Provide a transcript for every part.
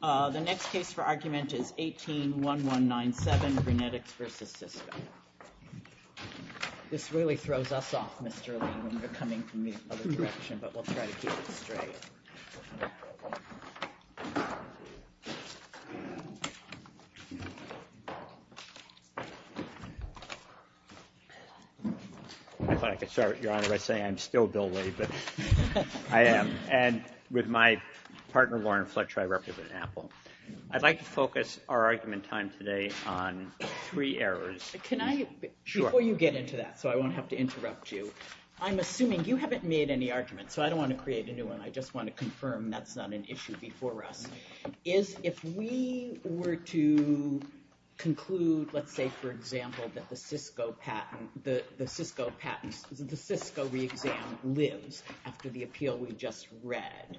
The next case for argument is 18-1197, BrunetX v. Cisco. My partner, Lauren Fletcher, I represent Apple. I'd like to focus our argument time today on three errors. Before you get into that, so I won't have to interrupt you, I'm assuming you haven't made any arguments, so I don't want to create a new one. I just want to confirm that's not an issue before us. If we were to conclude, let's say, for example, that the Cisco patent, the Cisco patent, the Cisco re-exam lives after the appeal we just read,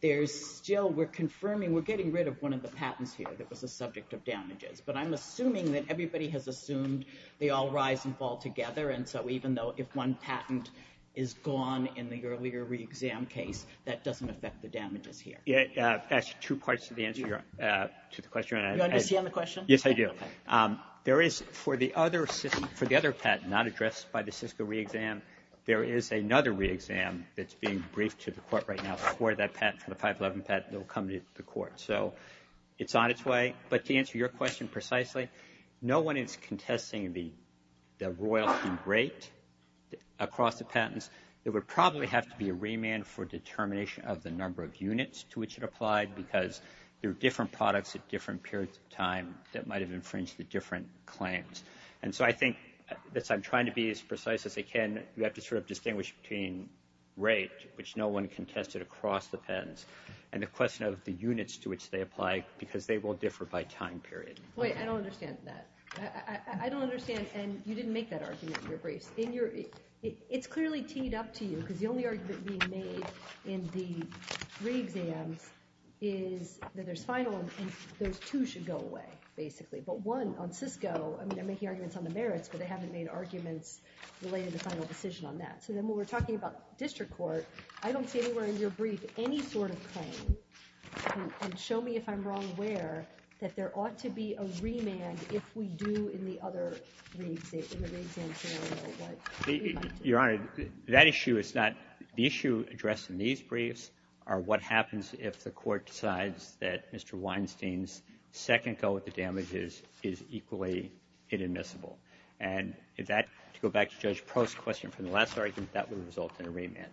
there's still, we're confirming, we're getting rid of one of the patents here that was a subject of damages, but I'm assuming that everybody has assumed they all rise and fall together, and so even though if one patent is gone in the earlier re-exam case, that doesn't affect the damages here. That's two parts of the answer to the question. Do you understand the question? Yes, I do. There is, for the other patent, not addressed by the Cisco re-exam, there is another re-exam that's being briefed to the court right now for that patent, for the 511 patent that will come to the court, so it's on its way, but to answer your question precisely, no one is contesting the royalty rate across the patents. There would probably have to be a remand for determination of the number of units to which it applied because there are different products at different periods of time that might have infringed the different claims, and so I think, as I'm trying to be as precise as I can, you have to sort of distinguish between rate, which no one contested across the patents, and the question of the units to which they apply because they will differ by time period. Wait, I don't understand that. I don't understand, and you didn't make that argument in your briefs. It's clearly teed up to you because the only argument being made in the re-exams is that there's final, and those two should go away, basically, but one, on Cisco, I mean, they're making arguments on the merits, but they haven't made arguments related to the final decision on that, so then when we're talking about district court, I don't see anywhere in your brief any sort of claim, and show me if I'm wrong where, that there ought to be a remand if we do in the other re-exam, in the re-exam scenario what you're trying to do. Your Honor, that issue is not, the issue addressed in these briefs are what happens if the court decides that Mr. Weinstein's second go at the damages is equally inadmissible, and that, to go back to Judge Post's question from the last argument, that would result in a remand.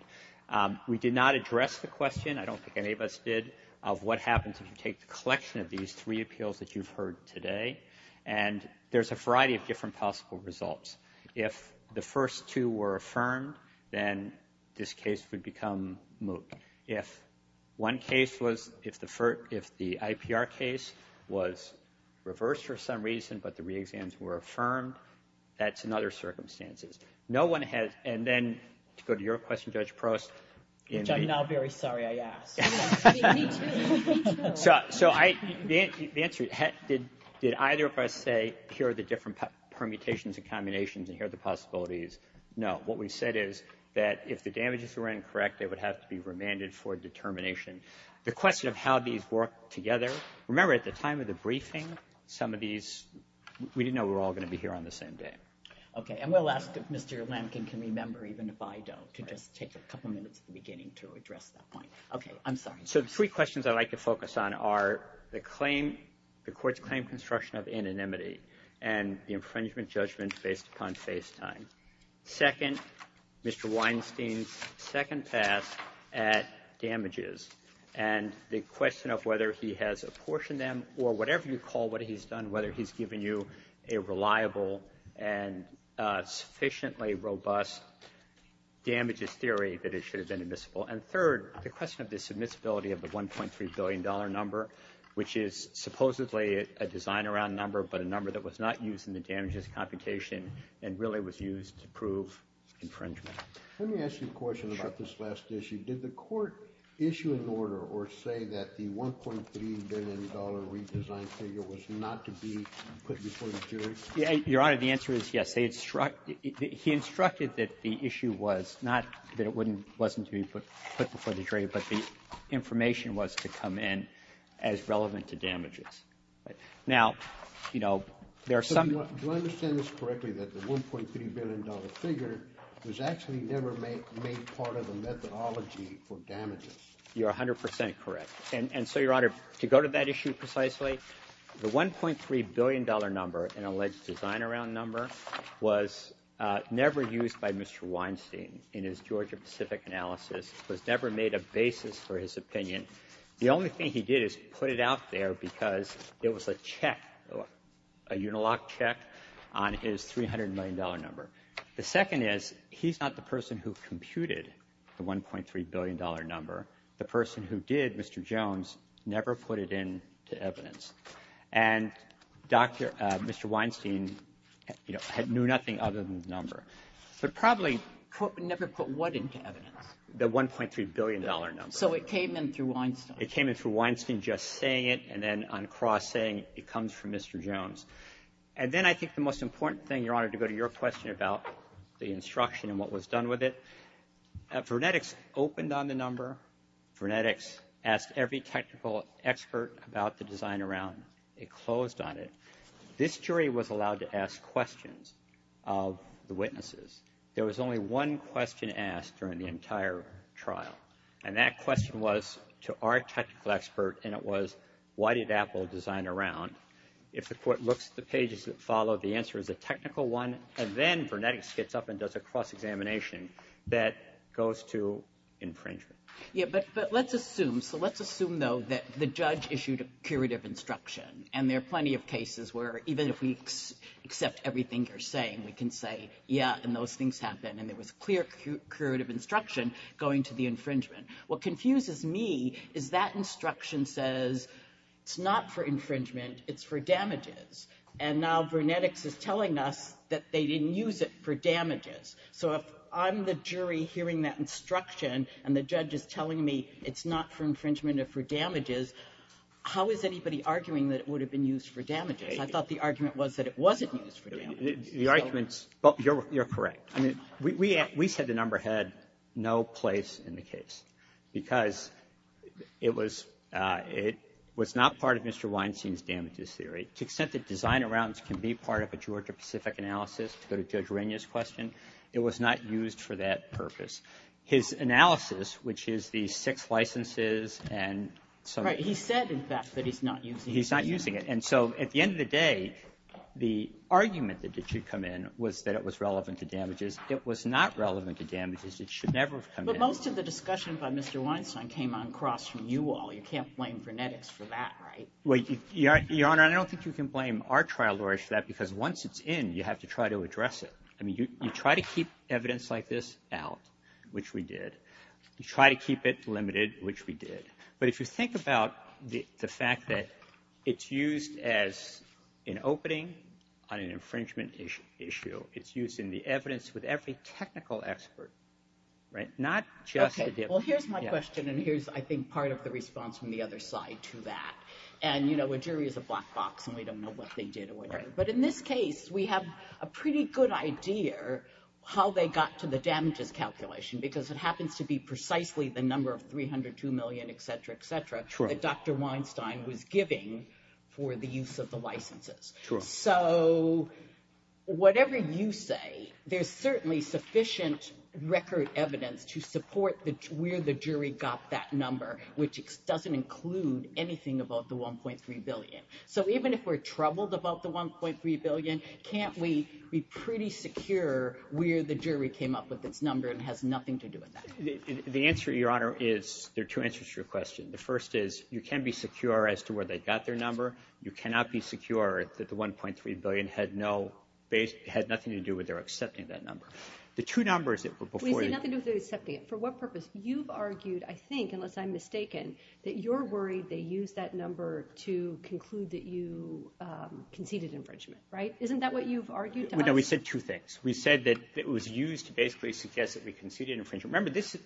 We did not address the question, I don't think any of us did, of what happens if you take the collection of these three appeals that you've heard today, and there's a variety of different possible results. If the first two were affirmed, then this case would become moot. If one case was, if the IPR case was reversed for some reason, but the re-exams were affirmed, that's another circumstances. No one has, and then, to go to your question, Judge Post. Which I'm now very sorry I asked. Me too, me too. So I, the answer, did either of us say, here are the different permutations and combinations, and here are the possibilities? No, what we said is, that if the damages were incorrect, they would have to be remanded for determination. The question of how these work together, remember at the time of the briefing, some of these, we didn't know we were all going to be here on the same day. Okay, and we'll ask if Mr. Lampkin can remember, even if I don't, to just take a couple minutes at the beginning to address that point. Okay, I'm sorry. So the three questions I'd like to focus on are, the claim, the court's claim construction of anonymity, and the infringement judgment based upon face time. Second, Mr. Weinstein's second pass at damages. And the question of whether he has apportioned them, or whatever you call what he's done, whether he's given you a reliable and sufficiently robust damages theory that it should have been admissible. And third, the question of the submissibility of the $1.3 billion number, which is supposedly a design around number, but a number that was not used in the damages computation, and really was used to prove infringement. Let me ask you a question about this last issue. Did the court issue an order, or say that the $1.3 billion redesign figure was not to be put before the jury? Your Honor, the answer is yes. He instructed that the issue was, not that it wasn't to be put before the jury, but the information was to come in as relevant to damages. Now, you know, there are some... Do I understand this correctly, that the $1.3 billion figure was actually never made part of the methodology for damages? You're 100% correct. And so, Your Honor, to go to that issue precisely, the $1.3 billion number, an alleged design around number, was never used by Mr. Weinstein in his Georgia Pacific analysis, was never made a basis for his opinion. The only thing he did is put it out there because it was a check, a Unilock check, on his $300 million number. The second is, he's not the person who computed the $1.3 billion number. The person who did, Mr. Jones, never put it into evidence. And Dr. Mr. Weinstein, you know, knew nothing other than the number. But probably never put what into evidence? The $1.3 billion number. So it came in through Weinstein. It came in through Weinstein just saying it, and then on cross saying it comes from Mr. Jones. And then I think the most important thing, Your Honor, to go to your question about the instruction and what was done with it. Vernetix opened on the number. Vernetix asked every technical expert about the design around. It closed on it. This jury was allowed to ask questions of the witnesses. There was only one question asked during the entire trial. And that question was to our technical expert, and it was, why did Apple design around? If the court looks at the pages that follow, the answer is a technical one. And then Vernetix gets up and does a cross-examination that goes to infringement. Yeah, but let's assume. So let's assume, though, that the judge issued a curative instruction. And there are plenty of cases where, even if we accept everything you're saying, we can say, yeah, and those things happen. And there was clear curative instruction going to the infringement. What confuses me is that instruction says, it's not for infringement. It's for damages. And now Vernetix is telling us that they didn't use it for damages. So if I'm the jury hearing that instruction and the judge is telling me it's not for infringement or for damages, how is anybody arguing that it would have been used for damages? I thought the argument was that it wasn't used for damages. The argument's you're correct. I mean, we said the number had no place in the case because it was not part of Mr. Weinstein's damages theory. To the extent that design arounds can be part of a Georgia-Pacific analysis, to go to Judge Regna's question, it was not used for that purpose. His analysis, which is the six licenses and so on. Right, he said, in fact, that he's not using it. He's not using it. And so at the end of the day, the argument that it should come in was that it was relevant to damages. It was not relevant to damages. It should never have come in. But most of the discussion by Mr. Weinstein came on cross from you all. You can't blame Vernetix for that, right? Well, Your Honor, I don't think you can blame our trial lawyers for that because once it's in, you have to try to address it. I mean, you try to keep evidence like this out, which we did. You try to keep it limited, which we did. But if you think about the fact that it's used as an opening on an infringement issue, it's used in the evidence with every technical expert, not just the defense. OK, well, here's my question. And here's, I think, part of the response from the other side to that. And you know, a jury is a black box, and we don't know what they did or whatever. But in this case, we have a pretty good idea how they got to the damages calculation because it happens to be precisely the number of $302 million, et cetera, et cetera, that Dr. Weinstein was giving for the use of the licenses. True. So whatever you say, there's certainly sufficient record evidence to support where the jury got that number, which doesn't include anything about the $1.3 billion. So even if we're troubled about the $1.3 billion, can't we be pretty secure where the jury came up with its number and has nothing to do with that? The answer, Your Honor, is there are two answers to your question. The first is, you can be secure as to where they got their number. You cannot be secure that the $1.3 billion had no, had nothing to do with their accepting that number. The two numbers that were before you- We say nothing to do with their accepting it. For what purpose? You've argued, I think, unless I'm mistaken, that you're worried they used that number to conclude that you conceded infringement, right? Isn't that what you've argued to us? No, we said two things. We said that it was used to basically suggest that we conceded infringement. Remember, this is-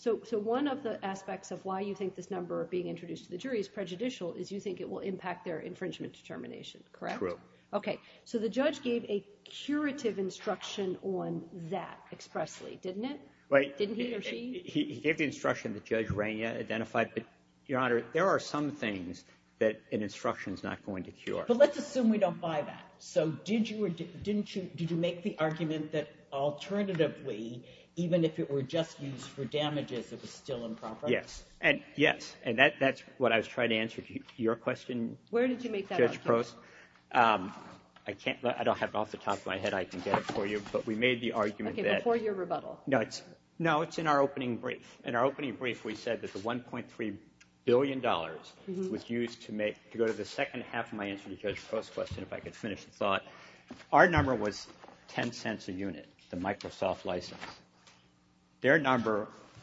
So one of the aspects of why you think this number being introduced to the jury is prejudicial is you think it will impact their infringement determination, correct? True. Okay. So the judge gave a curative instruction on that expressly, didn't it? Right. Didn't he or she? He gave the instruction that Judge Reina identified, but, Your Honor, there are some things that an instruction's not going to cure. But let's assume we don't buy that. So did you make the argument that alternatively, even if it were just used for damages, it was still improper? Yes. Yes, and that's what I was trying to answer to your question, Judge Post. Where did you make that argument? I don't have it off the top of my head. I can get it for you. But we made the argument that- Okay, before your rebuttal. No, it's in our opening brief. In our opening brief, we said that the $1.3 billion was used to go to the second half of my answer to Judge Post's question, if I could finish the thought. Our number was $0.10 a unit, the Microsoft license.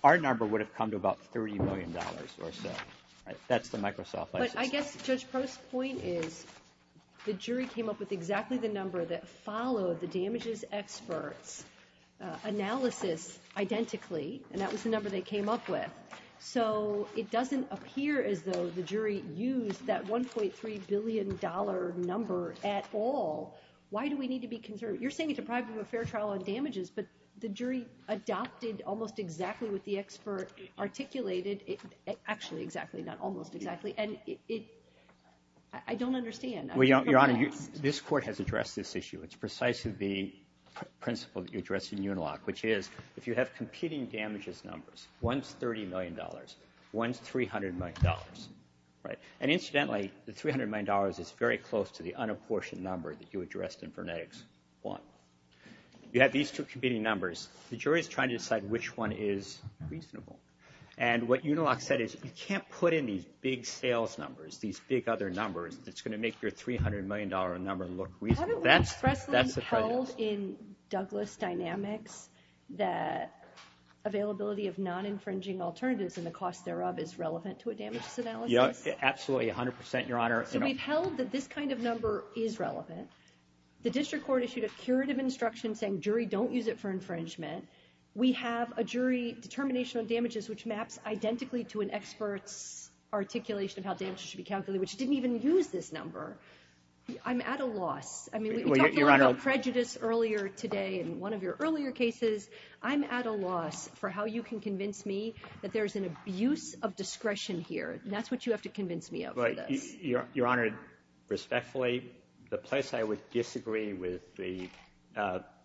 Our number would have come to about $30 million or so. That's the Microsoft license. But I guess Judge Post's point is the jury came up with exactly the number that followed the damages experts' analysis identically, and that was the number they came up with. So it doesn't appear as though the jury used that $1.3 billion number at all. Why do we need to be concerned? You're saying it's a private affair trial on damages, but the jury adopted almost exactly what the expert articulated. Actually, exactly, not almost exactly. And I don't understand. Your Honor, this Court has addressed this issue. It's precisely the principle that you addressed in UNILOC, which is if you have competing damages numbers, one's $30 million, one's $300 million. And incidentally, the $300 million is very close to the unapportioned number that you addressed in Furnetics 1. You have these two competing numbers. The jury's trying to decide which one is reasonable. And what UNILOC said is you can't put in these big sales numbers, these big other numbers that's going to make your $300 million number look reasonable. Haven't we expressly held in Douglas Dynamics that availability of non-infringing alternatives and the cost thereof is relevant to a damages analysis? Absolutely, 100 percent, Your Honor. So we've held that this kind of number is relevant. The district court issued a curative instruction saying jury, don't use it for infringement. We have a jury determination on damages which maps identically to an expert's articulation of how damages should be calculated, which didn't even use this number. I'm at a loss. I mean, we talked about prejudice earlier today in one of your earlier cases. I'm at a loss for how you can convince me that there's an abuse of discretion here. That's what you have to convince me of for this. Your Honor, respectfully, the place I would disagree with the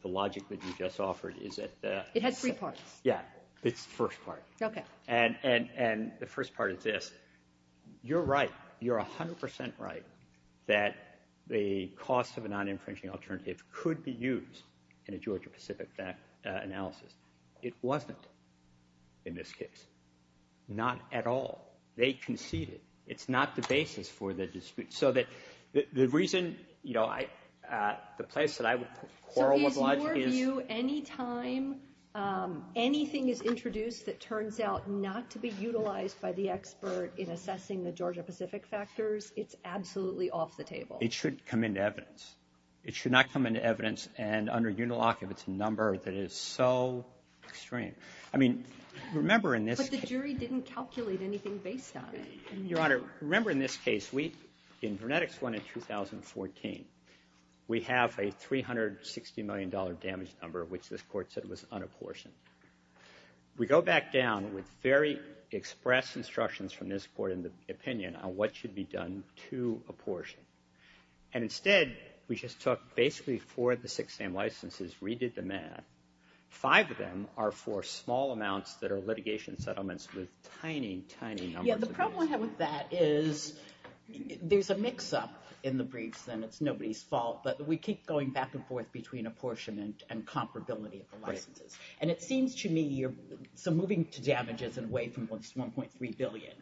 logic that you just offered is that... It had three parts. Yeah, the first part. Okay. And the first part is this. You're right. You're 100 percent right that the cost of a non-infringing alternative could be used in a Georgia-Pacific analysis. It wasn't in this case. Not at all. They conceded. It's not the basis for the dispute. So the reason, you know, the place that I would quarrel with logic is... So is your view anytime anything is introduced that turns out not to be utilized by the expert in assessing the Georgia-Pacific factors, it's absolutely off the table? It shouldn't come into evidence. It should not come into evidence, and under UNILOC if it's a number that is so extreme. I mean, remember in this case... But the jury didn't calculate anything based on it. Your Honor, remember in this case, in Vernetics 1 in 2014, we have a $360 million damage number, which this Court said was unapportioned. We go back down with very express instructions from this Court in the opinion on what should be done to apportion. And instead, we just took basically four of the six same licenses, redid the math. Five of them are for small amounts that are litigation settlements with tiny, tiny numbers of damages. Yeah, the problem with that is there's a mix-up in the briefs, and it's nobody's fault, but we keep going back and forth between apportionment and comparability of the licenses. And it seems to me, so moving to damages and away from what's $1.3 billion,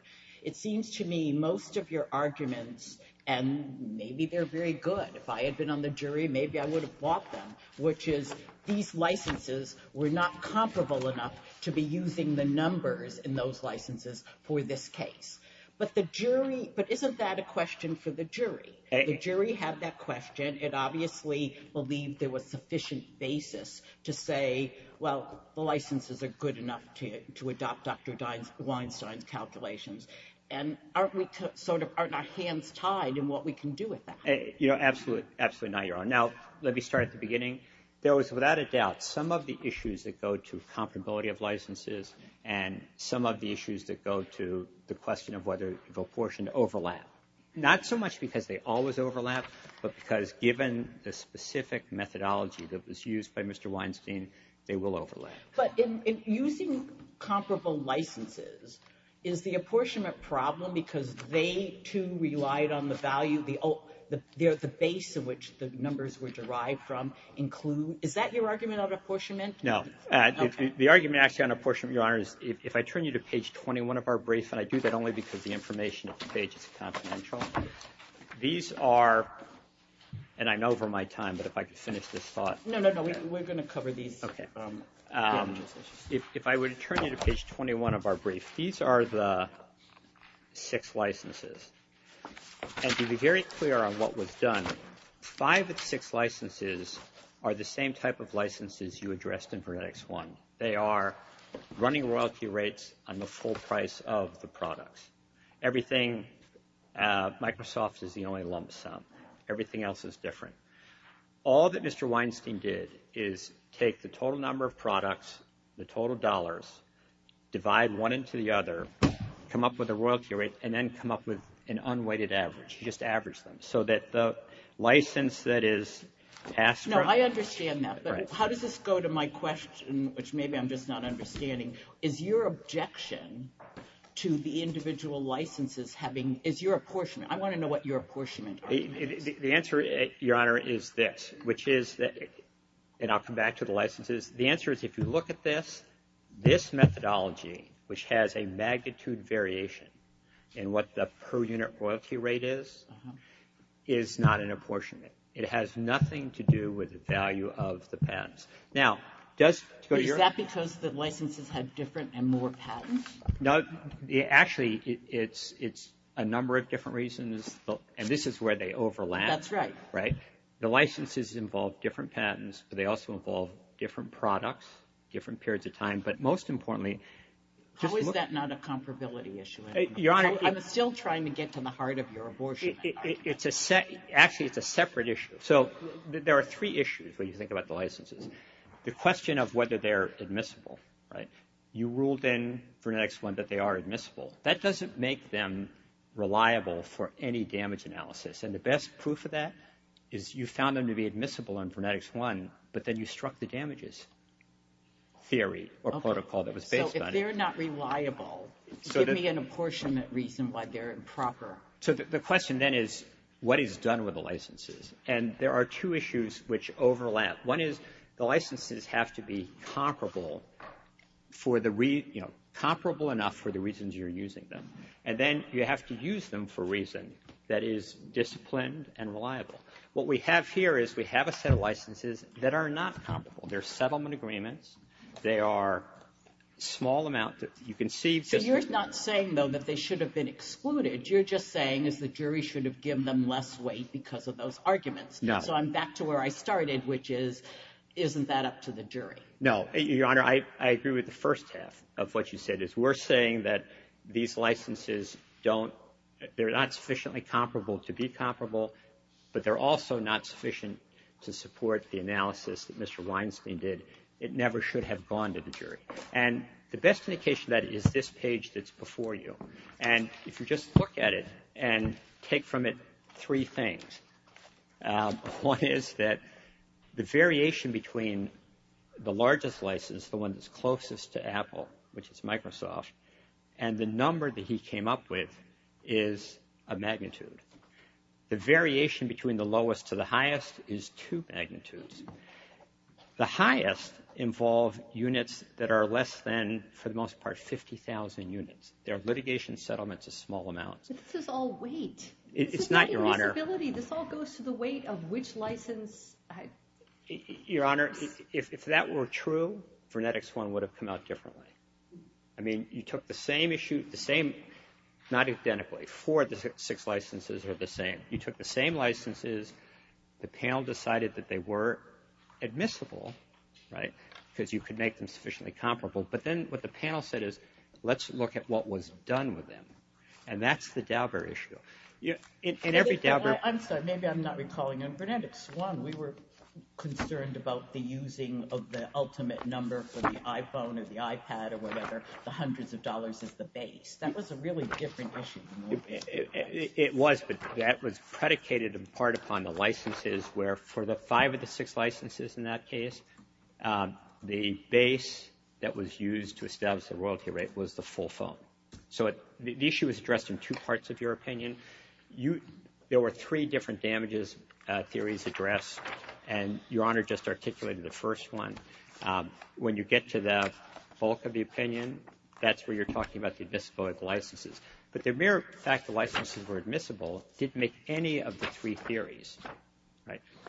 it seems to me most of your arguments and maybe they're very good. If I had been on the jury, maybe I would have bought them, which is these licenses were not comparable enough to be using the numbers in those licenses for this case. But the jury... But isn't that a question for the jury? The jury had that question. It obviously believed there was sufficient basis to say, well, the licenses are good enough to adopt Dr. Weinstein's calculations. And aren't we sort of... aren't our hands tied in what we can do with that? You know, absolutely, absolutely not, Your Honor. Now, let me start at the beginning. There was, without a doubt, some of the issues that go to comparability of licenses and some of the issues that go to the question of whether the apportionment overlap. Not so much because they always overlap, but because given the specific methodology that was used by Mr. Weinstein, they will overlap. But in using comparable licenses, is the apportionment problem because they, too, relied on the value... the base of which the numbers were derived from include... Is that your argument on apportionment? The argument actually on apportionment, Your Honor, is if I turn you to page 21 of our brief, and I do that only because the information on the page is confidential, these are... and I'm over my time, but if I could finish this thought... No, no, no, we're going to cover these. Okay. If I were to turn you to page 21 of our brief, these are the six licenses. And to be very clear on what was done, five of the six licenses are the same type of licenses you addressed in Vernetics 1. They are running royalty rates on the full price of the products. Everything... Microsoft is the only lump sum. Everything else is different. All that Mr. Weinstein did is take the total number of products, the total dollars, divide one into the other, come up with a royalty rate, and then come up with an unweighted average. He just averaged them so that the license that is asked for... No, I understand that, but how does this go to my question, which maybe I'm just not understanding? Is your objection to the individual licenses having... Is your apportionment... I want to know what your apportionment is. The answer, Your Honor, is this, which is... And I'll come back to the licenses. The answer is if you look at this, this methodology, which has a magnitude variation in what the per unit royalty rate is, is not an apportionment. It has nothing to do with the value of the patents. Now, does... Is that because the licenses have different and more patents? Actually, it's a number of different reasons, and this is where they overlap, right? That's right. The licenses involve different patents, but they also involve different products, different periods of time, but most importantly... How is that not a comparability issue? Your Honor... I'm still trying to get to the heart of your apportionment. Actually, it's a separate issue. So there are three issues when you think about the licenses. The question of whether they're admissible, right? You ruled in Vernetics 1 that they are admissible. That doesn't make them reliable for any damage analysis, and the best proof of that is you found them to be admissible in Vernetics 1, but then you struck the damages theory or protocol that was based on it. Okay. So if they're not reliable, give me an apportionment reason why they're improper. So the question then is what is done with the licenses, and there are two issues which overlap. One is the licenses have to be comparable for the... And then you have to use them for a reason that is disciplined and reliable. What we have here is we have a set of licenses that are not comparable. They're settlement agreements. They are a small amount that you can see... So you're not saying, though, that they should have been excluded. You're just saying the jury should have given them less weight because of those arguments. No. So I'm back to where I started, which is isn't that up to the jury? No. Your Honor, I agree with the first half of what you said. It's worth saying that these licenses don't... They're not sufficiently comparable to be comparable, but they're also not sufficient to support the analysis that Mr. Weinstein did. It never should have gone to the jury. And the best indication of that is this page that's before you. And if you just look at it and take from it three things, one is that the variation between the largest license, the one that's closest to Apple, which is Microsoft, and the number that he came up with is a magnitude. The variation between the lowest to the highest is two magnitudes. The highest involve units that are less than, for the most part, 50,000 units. They're litigation settlements of small amounts. But this is all weight. It's not, Your Honor. This is not a feasibility. This all goes to the weight of which license... Your Honor, if that were true, Vernetics 1 would have come out differently. I mean, you took the same issue, the same, not identically. Four of the six licenses are the same. You took the same licenses. The panel decided that they were admissible, right, because you could make them sufficiently comparable. But then what the panel said is, let's look at what was done with them. And that's the Dauber issue. In every Dauber... I'm sorry. Maybe I'm not recalling it. Vernetics 1, we were concerned about the using of the ultimate number for the iPhone or the iPad or whatever, the hundreds of dollars as the base. That was a really different issue. It was, but that was predicated in part upon the licenses where for the five of the six licenses in that case, the base that was used to establish the royalty rate was the full phone. So the issue is addressed in two parts of your opinion. There were three different damages theories addressed, and Your Honor just articulated the first one. When you get to the bulk of the opinion, that's where you're talking about the admissible licenses. But the mere fact the licenses were admissible didn't make any of the three theories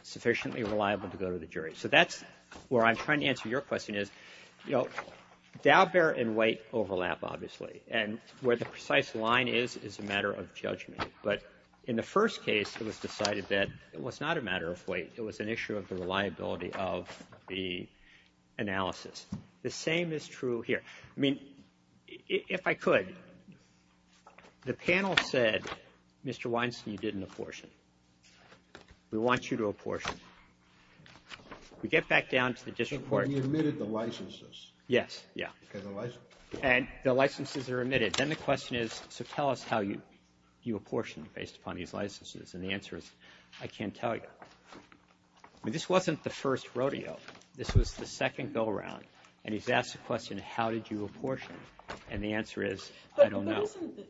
sufficiently reliable to go to the jury. So that's where I'm trying to answer your question is, you know, Dauber and Waite overlap, obviously, and where the precise line is, is a matter of judgment. But in the first case, it was decided that it was not a matter of weight. It was an issue of the reliability of the analysis. The same is true here. I mean, if I could, the panel said, Mr. Weinstein, you didn't apportion. We want you to apportion. We get back down to the district court. He admitted the licenses. Yes, yeah. And the licenses are admitted. Then the question is, so tell us how you apportioned based upon these licenses. And the answer is, I can't tell you. I mean, this wasn't the first rodeo. This was the second go-around. And he's asked the question, how did you apportion? And the answer is, I don't know. But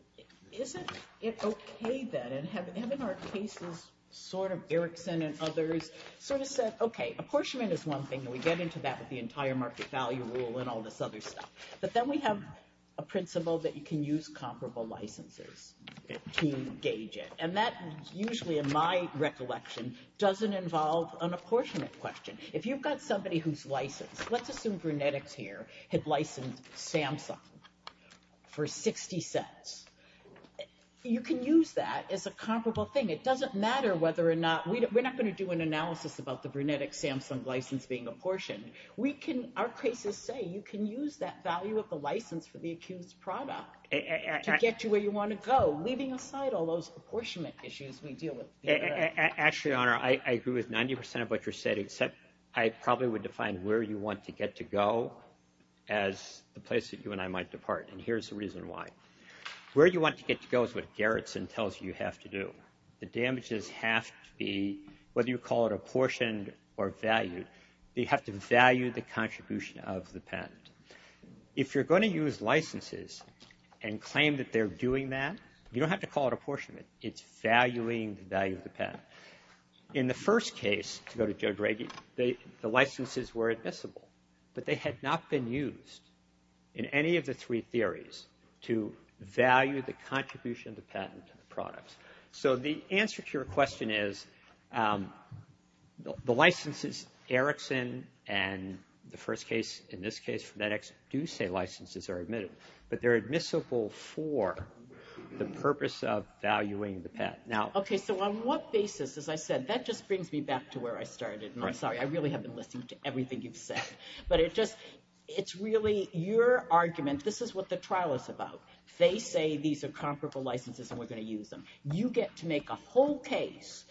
isn't it okay then? And have in our cases sort of Erickson and others sort of said, okay, apportionment is one thing, and we get into that with the entire market value rule and all this other stuff. But then we have a principle that you can use comparable licenses to engage it. And that usually, in my recollection, doesn't involve an apportionment question. If you've got somebody who's licensed, let's assume Brunetics here had licensed Samsung for 60 cents. You can use that as a comparable thing. It doesn't matter whether or not we're not going to do an analysis about the Our cases say you can use that value of the license for the accused product to get you where you want to go, leaving aside all those apportionment issues we deal with. Actually, Your Honor, I agree with 90 percent of what you're saying, except I probably would define where you want to get to go as the place that you and I might depart. And here's the reason why. Where you want to get to go is what Gerritsen tells you you have to do. The damages have to be, whether you call it apportioned or valued, you have to value the contribution of the patent. If you're going to use licenses and claim that they're doing that, you don't have to call it apportionment. It's valuing the value of the patent. In the first case, to go to Judge Reagy, the licenses were admissible, but they had not been used in any of the three theories to value the contribution of the patent to the products. So the answer to your question is the licenses, Erickson and the first case, in this case, do say licenses are admitted, but they're admissible for the purpose of valuing the patent. Okay, so on what basis, as I said, that just brings me back to where I started, and I'm sorry. I really have been listening to everything you've said, but it's really your argument. This is what the trial is about. They say these are comparable licenses and we're going to use them. You get to make a whole case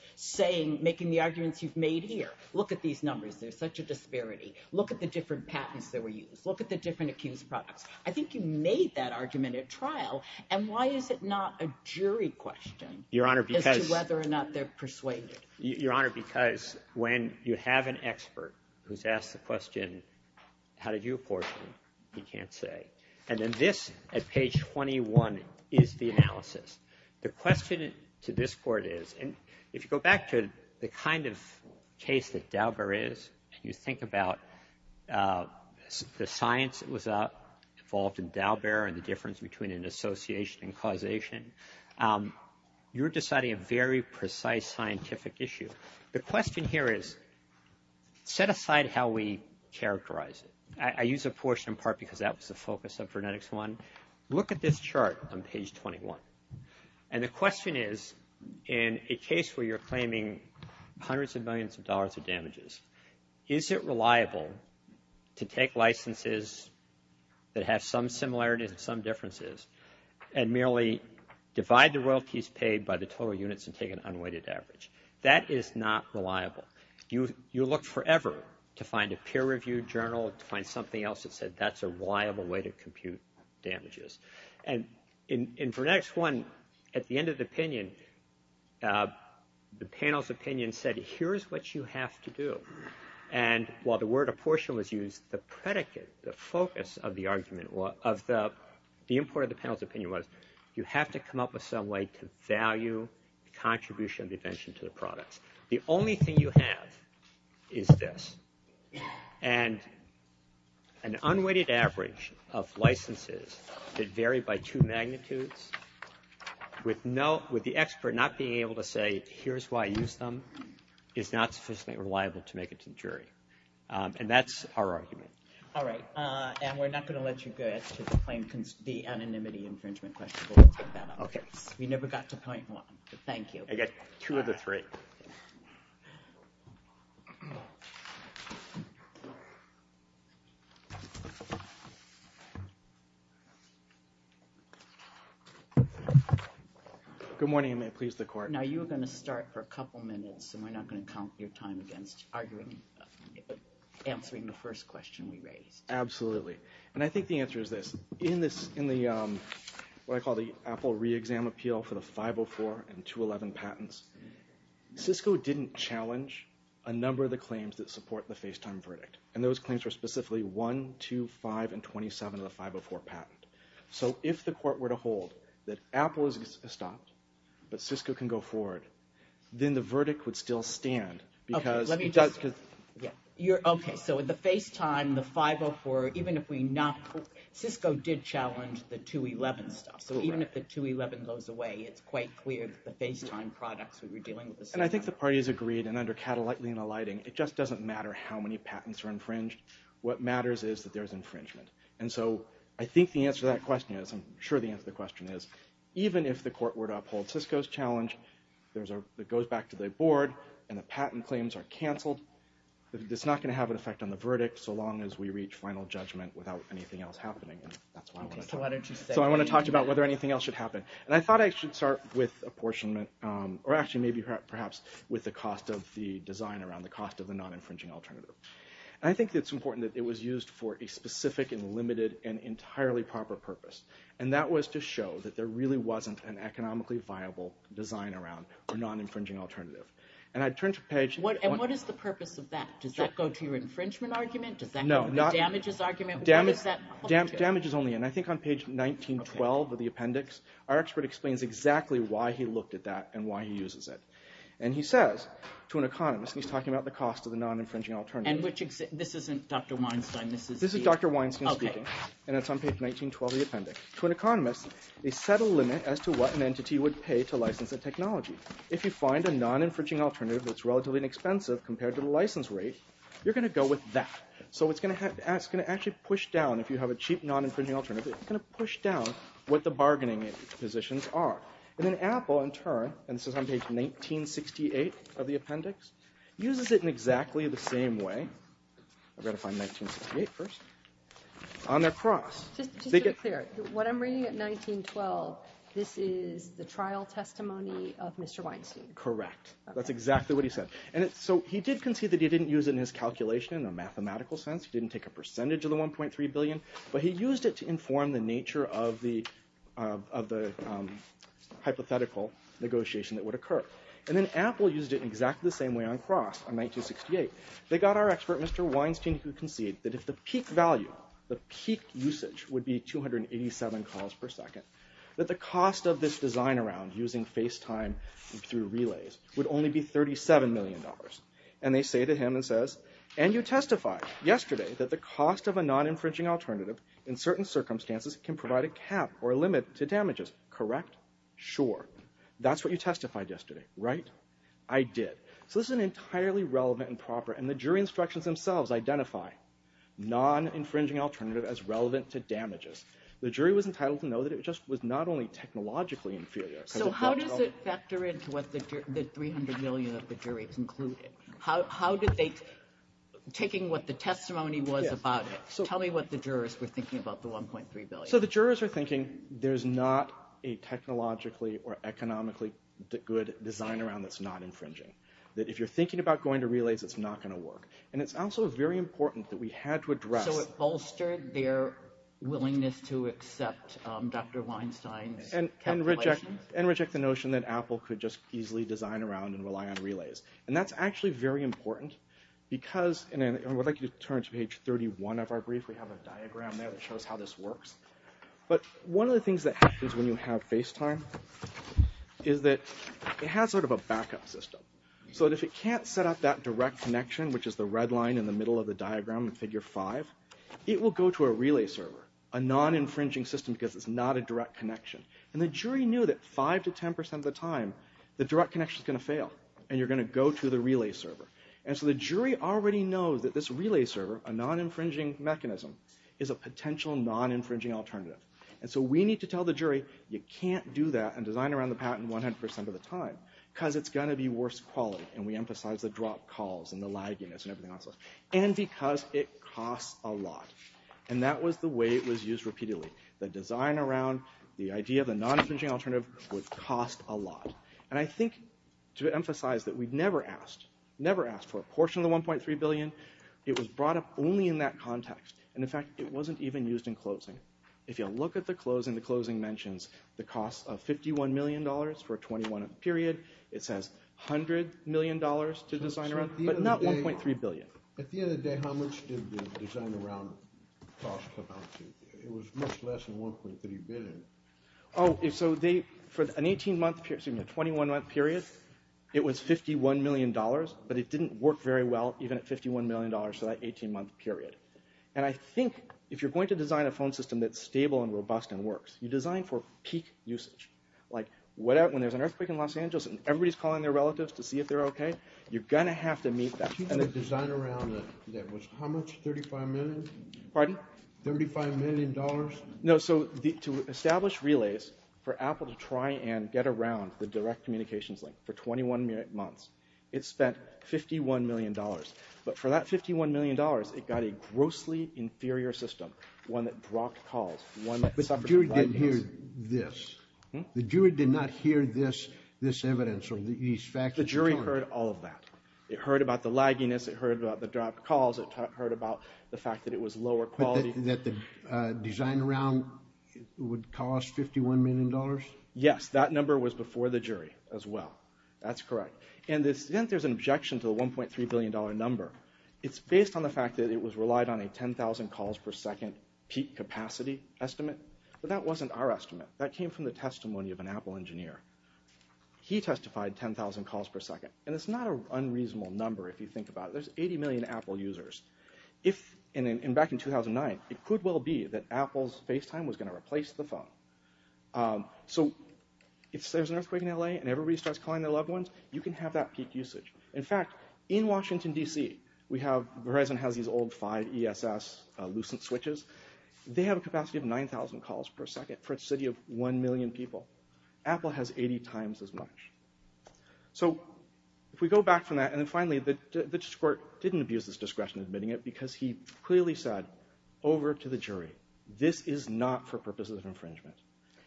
making the arguments you've made here. Look at these numbers. There's such a disparity. Look at the different patents that were used. Look at the different accused products. I think you made that argument at trial, and why is it not a jury question as to whether or not they're persuaded? Your Honor, because when you have an expert who's asked the question, how did you apportion? He can't say. And then this, at page 21, is the analysis. The question to this court is, and if you go back to the kind of case that Daubert is, and you think about the science that was involved in Daubert and the difference between an association and causation, you're deciding a very precise scientific issue. The question here is, set aside how we characterize it. I use apportion in part because that was the focus of frenetics one. Look at this chart on page 21. And the question is, in a case where you're claiming hundreds of millions of dollars of damages, is it reliable to take licenses that have some similarities and some differences and merely divide the royalties paid by the total units and take an unweighted average? That is not reliable. You look forever to find a peer-reviewed journal, to find something else that said that's a reliable way to compute damages. And in frenetics one, at the end of the opinion, the panel's opinion said, here's what you have to do. And while the word apportion was used, the predicate, the focus of the argument, of the import of the panel's opinion was, you have to come up with some way to value the contribution of the invention to the products. The only thing you have is this. And an unweighted average of licenses that vary by two magnitudes, with the expert not being able to say, here's why I used them, is not sufficiently reliable to make it to the jury. And that's our argument. All right. And we're not going to let you go to the anonymity infringement question, but we'll take that up. We never got to point one, but thank you. I got two of the three. Good morning, and may it please the Court. Now, you were going to start for a couple minutes, and we're not going to count your time against answering the first question we raised. Absolutely. And I think the answer is this. In what I call the Apple re-exam appeal for the 504 and 211 patents, Cisco didn't challenge a number of the claims that support the FaceTime verdict. And those claims were specifically 1, 2, 5, and 27 of the 504 patent. So if the Court were to hold that Apple has stopped, but Cisco can go forward, then the verdict would still stand. Okay, let me just. Okay, so the FaceTime, the 504, even if we not – Cisco did challenge the 211 stuff. So even if the 211 goes away, it's quite clear that the FaceTime products we were dealing with. And I think the parties agreed, and under Catalina lighting, it just doesn't matter how many patents are infringed. What matters is that there's infringement. And so I think the answer to that question is, I'm sure the answer to the question is, even if the Court were to uphold Cisco's challenge, it goes back to the Board, and the patent claims are canceled, it's not going to have an effect on the verdict so long as we reach final judgment without anything else happening. So I want to talk about whether anything else should happen. And I thought I should start with apportionment, or actually maybe perhaps with the cost of the design around, the cost of the non-infringing alternative. And I think it's important that it was used for a specific and limited and entirely proper purpose. And that was to show that there really wasn't an economically viable design around a non-infringing alternative. And I turned to Paige. And what is the purpose of that? Does that go to your infringement argument? Does that go to the damages argument? Damages only, and I think on page 1912 of the appendix, our expert explains exactly why he looked at that and why he uses it. And he says to an economist, and he's talking about the cost of the non-infringing alternative. And this isn't Dr. Weinstein. This is Dr. Weinstein speaking, and it's on page 1912 of the appendix. To an economist, they set a limit as to what an entity would pay to license a technology. If you find a non-infringing alternative that's relatively inexpensive compared to the license rate, you're going to go with that. So it's going to actually push down, if you have a cheap non-infringing alternative, it's going to push down what the bargaining positions are. And then Apple, in turn, and this is on page 1968 of the appendix, uses it in exactly the same way. I've got to find 1968 first. On their cross. Just to be clear, what I'm reading at 1912, this is the trial testimony of Mr. Weinstein? Correct. That's exactly what he said. And so he did concede that he didn't use it in his calculation in a mathematical sense. He didn't take a percentage of the 1.3 billion, but he used it to inform the nature of the hypothetical negotiation that would occur. And then Apple used it in exactly the same way on cross in 1968. They got our expert, Mr. Weinstein, who conceded that if the peak value, the peak usage would be 287 calls per second, that the cost of this design around using FaceTime through relays would only be $37 million. And they say to him, and says, and you testified yesterday that the cost of a non-infringing alternative in certain circumstances can provide a cap or a limit to damages. Correct? Sure. That's what you testified yesterday, right? I did. So this is an entirely relevant and proper, and the jury instructions themselves identify non-infringing alternative as relevant to damages. The jury was entitled to know that it just was not only technologically inferior. So how does it factor into what the 300 million of the jury concluded? How did they, taking what the testimony was about it, tell me what the jurors were thinking about the 1.3 billion. So the jurors were thinking there's not a technologically or economically good design around that's not infringing. That if you're thinking about going to relays, it's not going to work. And it's also very important that we had to address. And reject the notion that Apple could just easily design around and rely on relays. And that's actually very important because, and I would like you to turn to page 31 of our brief. We have a diagram there that shows how this works. But one of the things that happens when you have face time is that it has sort of a backup system. So if it can't set up that direct connection, which is the red line in the middle of the diagram in figure five, it will go to a relay server, a non-infringing system because it's not a direct connection. And the jury knew that five to ten percent of the time, the direct connection is going to fail. And you're going to go to the relay server. And so the jury already knows that this relay server, a non-infringing mechanism, is a potential non-infringing alternative. And so we need to tell the jury you can't do that and design around the patent 100 percent of the time because it's going to be worse quality. And we emphasize the drop calls and the lagginess and everything else. And because it costs a lot. And that was the way it was used repeatedly. The design around, the idea of a non-infringing alternative would cost a lot. And I think to emphasize that we never asked, never asked for a portion of the $1.3 billion. It was brought up only in that context. And in fact, it wasn't even used in closing. If you look at the closing, the closing mentions the cost of $51 million for a 21-month period. It says $100 million to design around, but not $1.3 billion. At the end of the day, how much did the design around cost? It was much less than $1.3 billion. Oh, so for an 18-month period, excuse me, a 21-month period, it was $51 million, but it didn't work very well even at $51 million for that 18-month period. And I think if you're going to design a phone system that's stable and robust and works, you design for peak usage. Like when there's an earthquake in Los Angeles and everybody's calling their relatives to see if they're okay, you're going to have to meet that. But if you design around that, that was how much? $35 million? Pardon? $35 million? No, so to establish relays for Apple to try and get around the direct communications link for 21 months, it spent $51 million. But for that $51 million, it got a grossly inferior system, one that blocked calls, one that suffered from... But the jury didn't hear this. Hmm? The jury did not hear this evidence or these facts. The jury heard all of that. It heard about the lagginess, it heard about the dropped calls, it heard about the fact that it was lower quality. But that the design around would cost $51 million? Yes, that number was before the jury as well. That's correct. And since there's an objection to the $1.3 billion number, it's based on the fact that it was relied on a 10,000 calls per second peak capacity estimate. But that wasn't our estimate. That came from the testimony of an Apple engineer. He testified 10,000 calls per second. And it's not an unreasonable number if you think about it. There's 80 million Apple users. And back in 2009, it could well be that Apple's FaceTime was going to replace the phone. So if there's an earthquake in L.A. and everybody starts calling their loved ones, you can have that peak usage. In fact, in Washington, D.C., Verizon has these old five ESS Lucent switches. They have a capacity of 9,000 calls per second for a city of one million people. Apple has 80 times as much. So if we go back from that, and then finally, the court didn't abuse its discretion in admitting it because he clearly said over to the jury, this is not for purposes of infringement.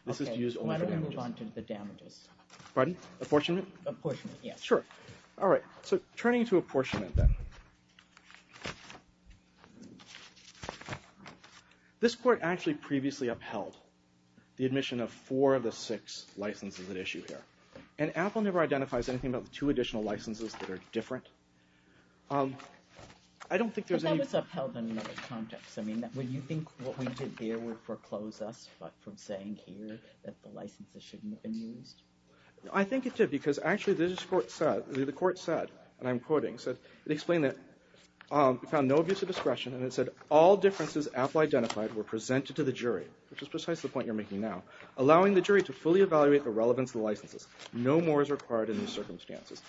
This is to use only for damages. Why don't we move on to the damages? Pardon? Apportionment? Apportionment, yes. Sure. All right. So turning to apportionment then. This court actually previously upheld the admission of four of the six licenses at issue here. And Apple never identifies anything about the two additional licenses that are different. I don't think there's any... But that was upheld in another context. I mean, would you think what we did here would foreclose us from saying here that the licenses shouldn't have been used? I think it did, because actually this court said, the court said, and I'm quoting, it explained that we found no abuse of discretion and it said all differences Apple identified were presented to the jury, which is precisely the point you're making now, allowing the jury to fully evaluate the relevance of the licenses. No more is required in these circumstances.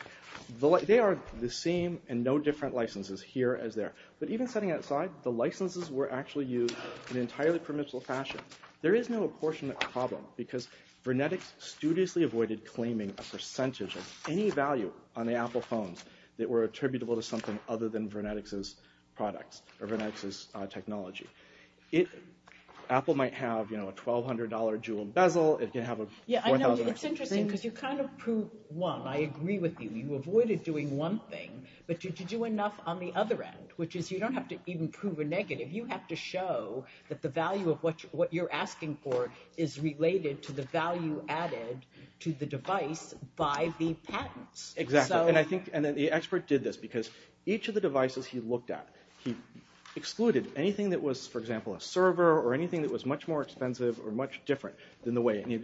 They are the same and no different licenses here as there. But even setting that aside, the licenses were actually used in an entirely permissible fashion. There is no apportionment problem because Vernetix studiously avoided claiming a percentage of any value on the Apple phones that were attributable to something other than Vernetix's products or Vernetix's technology. Apple might have, you know, a $1,200 jewel bezel, it can have a $4,000 thing. Yeah, I know, it's interesting because you kind of prove one. I agree with you. You avoided doing one thing, but did you do enough on the other end, which is you don't have to even prove a negative. You have to show that the value of what you're asking for is related to the value added to the device by the patents. Exactly, and I think, and then the expert did this because each of the devices he looked at, he excluded anything that was, for example, a server or anything that was much more expensive or much different than the way, and he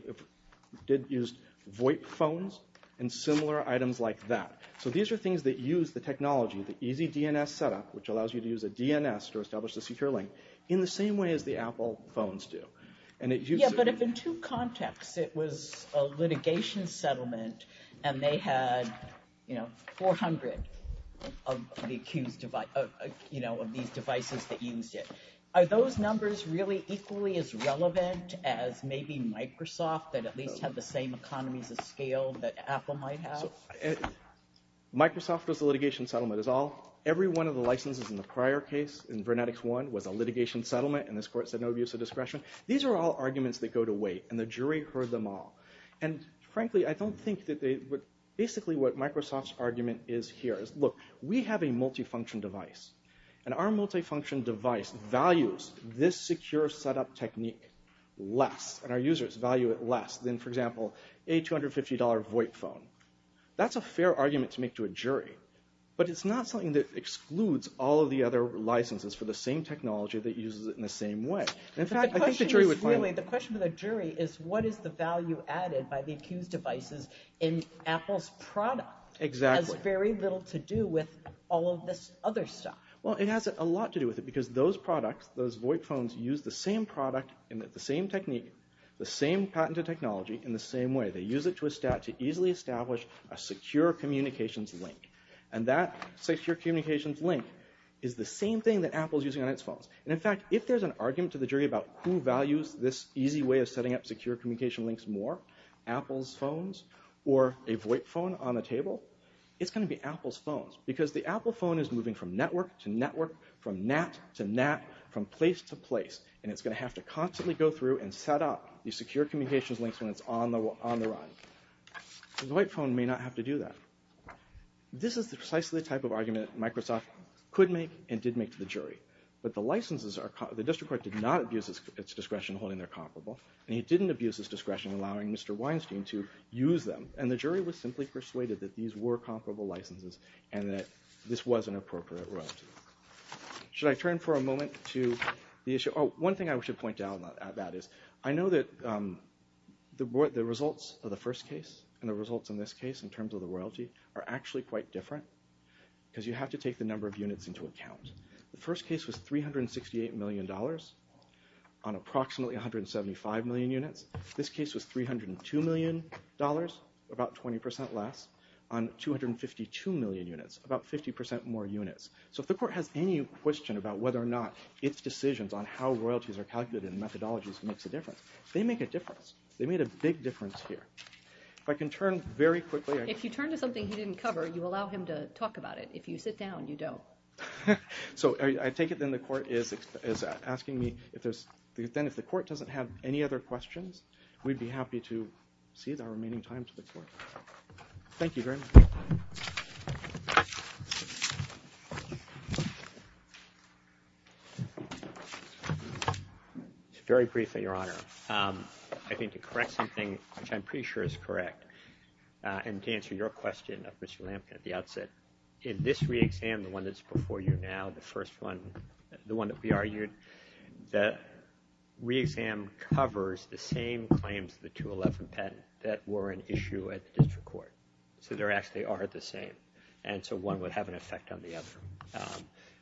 did use VoIP phones and similar items like that. So these are things that use the technology, the easy DNS setup, which allows you to use a DNS to establish a secure link, in the same way as the Apple phones do. Yeah, but if in two contexts, it was a litigation settlement and they had, you know, 400 of these devices that used it, are those numbers really equally as relevant as maybe Microsoft that at least had the same economies of scale that Apple might have? Microsoft was the litigation settlement. Every one of the licenses in the prior case, in Vernetics 1, was a litigation settlement, and this court said no abuse of discretion. These are all arguments that go to weight, and the jury heard them all. And frankly, I don't think that they, basically what Microsoft's argument is here is, look, we have a multifunction device, and our multifunction device values this secure setup technique less, and our users value it less, than, for example, a $250 VoIP phone. That's a fair argument to make to a jury, but it's not something that excludes all of the other licenses for the same technology that uses it in the same way. The question for the jury is, what is the value added by the accused devices in Apple's product? Exactly. It has very little to do with all of this other stuff. Well, it has a lot to do with it, because those products, those VoIP phones, use the same product, and the same technique, the same patented technology, in the same way. They use it to easily establish a secure communications link. And that secure communications link is the same thing that Apple's using on its phones. And in fact, if there's an argument to the jury about who values this easy way of setting up secure communication links more, Apple's phones, or a VoIP phone on the table, it's going to be Apple's phones. Because the Apple phone is moving from network to network, from NAT to NAT, from place to place, and it's going to have to constantly go through and set up these secure communications links when it's on the run. The VoIP phone may not have to do that. This is precisely the type of argument Microsoft could make and did make to the jury. But the licenses are, the district court did not abuse its discretion in holding their comparable, and it didn't abuse its discretion in allowing Mr. Weinstein to use them. And the jury was simply persuaded that these were comparable licenses, and that this was an appropriate royalty. Should I turn for a moment to the issue, oh, one thing I should point out about that is, I know that the results of the first case and the results in this case in terms of the royalty are actually quite different, because you have to take the number of units into account. The first case was $368 million on approximately 175 million units. This case was $302 million, about 20% less, on 252 million units, about 50% more units. So if the court has any question about whether or not its decisions on how royalties are calculated in methodologies makes a difference, they make a difference. They made a big difference here. If I can turn very quickly. If you turn to something he didn't cover, you allow him to talk about it. If you sit down, you don't. So I take it then the court is asking me if there's, then if the court doesn't have any other questions, we'd be happy to cede our remaining time to the court. Thank you very much. Very briefly, Your Honor. I think to correct something, which I'm pretty sure is correct, and to answer your question of Mr. Lamkin at the outset, in this re-exam, the one that's before you now, the first one, the one that we argued, the re-exam covers the same claims of the 211 patent that were an issue at the district court. So they actually are the same. And so one would have an effect on the other.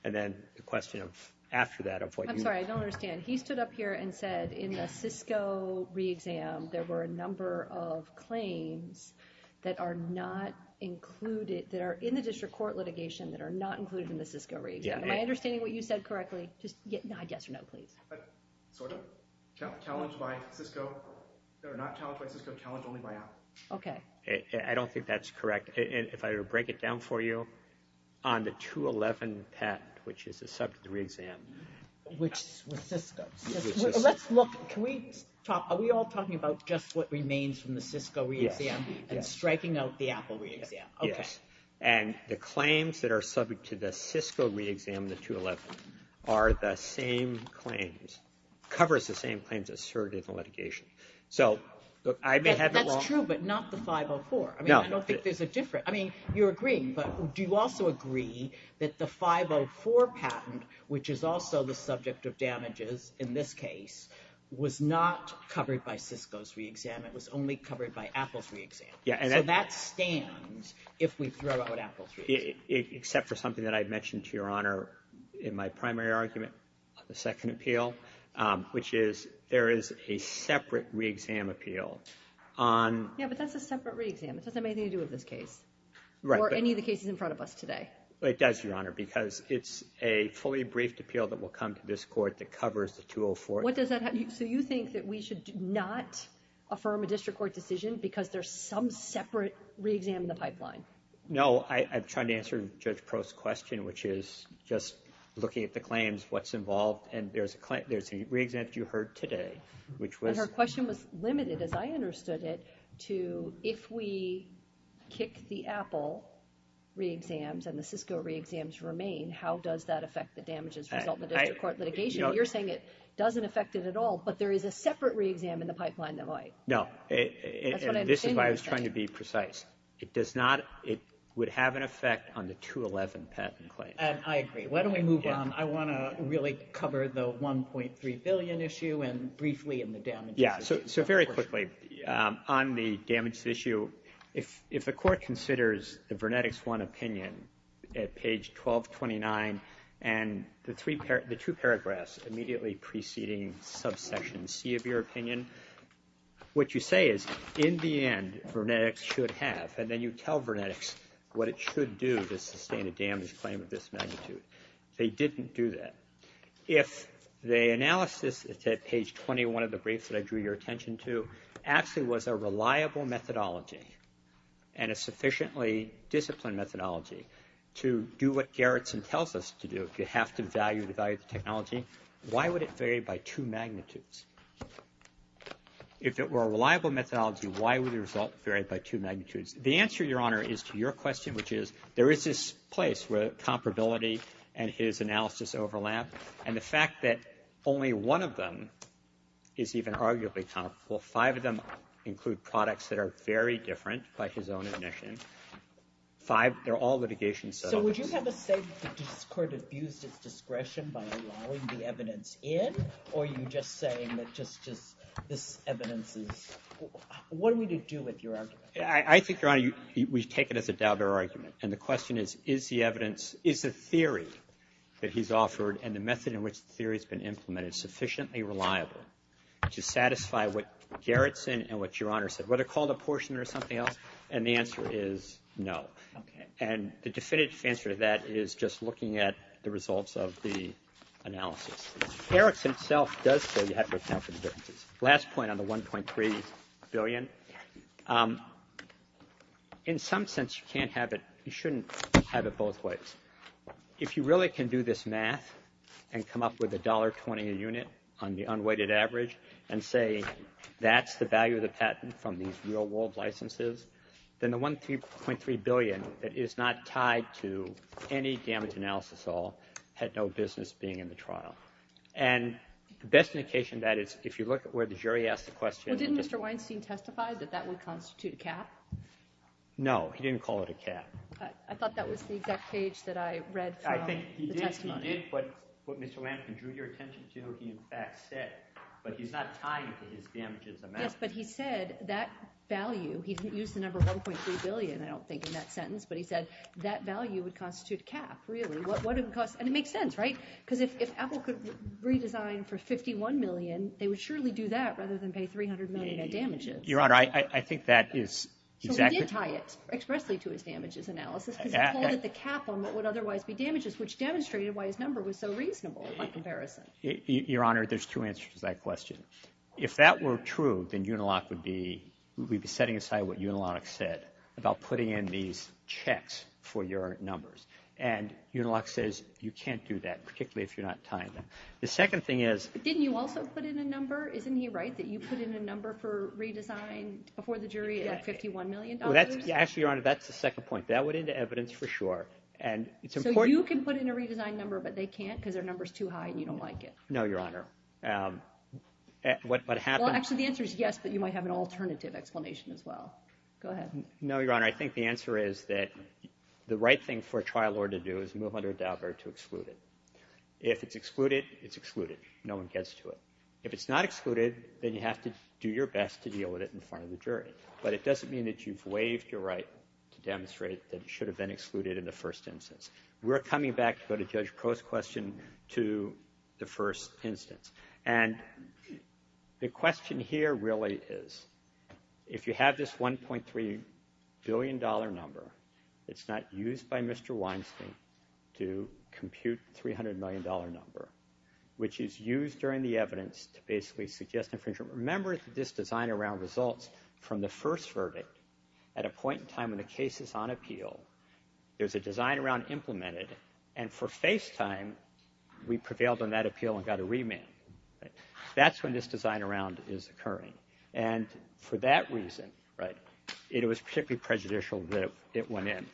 And then the question of, after that, of what you... I'm sorry, I don't understand. He stood up here and said in the Cisco re-exam, there were a number of claims that are not included, that are in the district court litigation that are not included in the Cisco re-exam. Am I understanding what you said correctly? Yes or no, please. Sort of. Challenged by Cisco. They're not challenged by Cisco, challenged only by Apple. Okay. I don't think that's correct. If I were to break it down for you, on the 211 patent, which is the subject of the re-exam... Which was Cisco's. Let's look... Can we talk... Are we all talking about just what remains from the Cisco re-exam and striking out the Apple re-exam? Yes. And the claims that are subject to the Cisco re-exam, the 211, are the same claims, covers the same claims asserted in the litigation. So I may have it wrong. That's true, but not the 504. I don't think there's a difference. I mean, you're agreeing, but do you also agree that the 504 patent, which is also the subject of damages in this case, was not covered by Cisco's re-exam. It was only covered by Apple's re-exam. So that stands if we throw out Apple's re-exam. Except for something that I mentioned to Your Honor in my primary argument, the second appeal, which is there is a separate re-exam appeal on... Yeah, but that's a separate re-exam. It doesn't have anything to do with this case. Right. Or any of the cases in front of us today. It does, Your Honor, because it's a fully briefed appeal that will come to this court that covers the 204. So you think that we should not affirm a district court decision because there's some separate re-exam in the pipeline. No, I'm trying to answer Judge Prost's question, which is just looking at the claims, what's involved, and there's a re-exam that you heard today, which was... And her question was limited, as I understood it, to if we kick the Apple re-exams and the Cisco re-exams remain, how does that affect the damages resulting in the district court litigation? You're saying it doesn't affect it at all, but there is a separate re-exam in the pipeline that might. No. That's what I'm saying. This is why I was trying to be precise. It does not... It would have an effect on the 211 patent claim. And I agree. Why don't we move on? I want to really cover the $1.3 billion issue and briefly in the damages. Yeah, so very quickly. On the damage issue, if the court considers the Vernetics 1 opinion at page 1229 and the two paragraphs immediately preceding subsection C of your opinion, what you say is, in the end, Vernetics should have, and then you tell Vernetics what it should do to sustain a damage claim of this magnitude. They didn't do that. If the analysis at page 21 of the brief that I drew your attention to actually was a reliable methodology and a sufficiently disciplined methodology to do what Gerritsen tells us to do, if you have to value the technology, why would it vary by two magnitudes? If it were a reliable methodology, why would the result vary by two magnitudes? The answer, Your Honor, is to your question, which is there is this place where comparability and his analysis overlap, and the fact that only one of them is even arguably comparable, five of them include products that are very different by his own admission. Five, they're all litigation settlements. So would you have us say the court abused its discretion by allowing the evidence in, or are you just saying that just this evidence is... What are we to do with your argument? I think, Your Honor, we take it as a doubter argument, and the question is, is the evidence, is the theory that he's offered and the method in which the theory's been implemented sufficiently reliable to satisfy what Gerritsen and what Your Honor said, whether called a portion or something else? And the answer is no. And the definitive answer to that is just looking at the results of the analysis. Gerritsen himself does say you have to account for the differences. Last point on the 1.3 billion. In some sense, you can't have it, you shouldn't have it both ways. If you really can do this math and come up with $1.20 a unit on the unweighted average and say that's the value of the patent from these real-world licenses, then the 1.3 billion is not tied to any damage analysis at all, had no business being in the trial. And the best indication of that is if you look at where the jury asked the question... Well, didn't Mr. Weinstein testify that that would constitute a cap? No, he didn't call it a cap. I thought that was the exact page that I read from the testimony. He did, but what Mr. Lampkin drew your attention to, is what he in fact said. But he's not tying it to his damages amount. Yes, but he said that value, he didn't use the number 1.3 billion, I don't think, in that sentence, but he said that value would constitute a cap, really. And it makes sense, right? Because if Apple could redesign for 51 million, they would surely do that rather than pay $300 million in damages. Your Honor, I think that is exactly... So he did tie it expressly to his damages analysis, because he called it the cap on what would otherwise be damages, which demonstrated why his number was so reasonable in my comparison. Your Honor, there's two answers to that question. If that were true, then Unilock would be setting aside what Unilock said about putting in these checks for your numbers. And Unilock says, you can't do that, particularly if you're not tying them. The second thing is... But didn't you also put in a number? Isn't he right that you put in a number for redesign before the jury at $51 million? Actually, Your Honor, that's the second point. That went into evidence for sure. So you can put in a redesigned number, but they can't because their number's too high and you don't like it. No, Your Honor. What happened... Well, actually, the answer is yes, but you might have an alternative explanation as well. Go ahead. No, Your Honor, I think the answer is that the right thing for a trial lawyer to do is move under a doubt or to exclude it. If it's excluded, it's excluded. No one gets to it. If it's not excluded, then you have to do your best to deal with it in front of the jury. But it doesn't mean that you've waived your right to demonstrate that it should have been excluded in the first instance. We're coming back to go to Judge Crow's question to the first instance. And the question here really is, if you have this $1.3 billion number, it's not used by Mr. Weinstein to compute the $300 million number, which is used during the evidence to basically suggest... Remember this design around results from the first verdict at a point in time when the case is on appeal, there's a design around implemented, and for face time, we prevailed on that appeal and got a remand. That's when this design around is occurring. And for that reason, it was particularly prejudicial that it went in.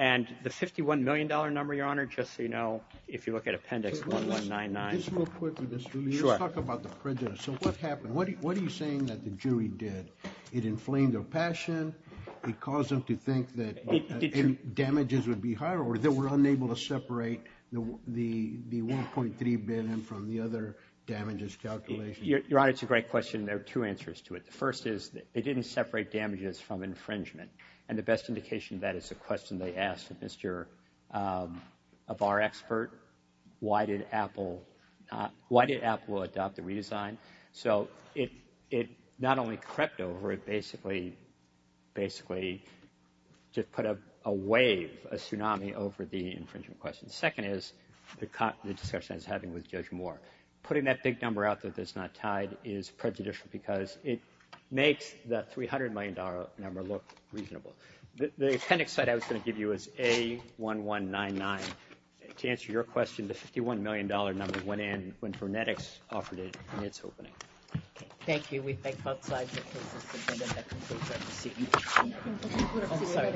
And the $51 million number, Your Honor, just so you know, if you look at Appendix 1199... Let's move quickly, Mr. Lee. Sure. Let's talk about the prejudice. So what happened? What are you saying that the jury did? It inflamed their passion? It caused them to think that damages would be higher or that we're unable to separate the 1.3 billion from the other damages calculations? Your Honor, it's a great question. There are two answers to it. The first is they didn't separate damages from infringement. And the best indication of that is the question they asked of our expert. Why did Apple adopt the redesign? So it not only crept over, it basically just put a wave, a tsunami, over the infringement question. The second is the discussion I was having with Judge Moore. Putting that big number out that it's not tied is prejudicial because it makes that $300 million number look reasonable. The appendix site I was going to give you is A1199. To answer your question, the $51 million number went in when Furnetics offered it in its opening. Okay. Thank you. We thank both sides for their cases. And then that concludes our proceedings. I'm sorry.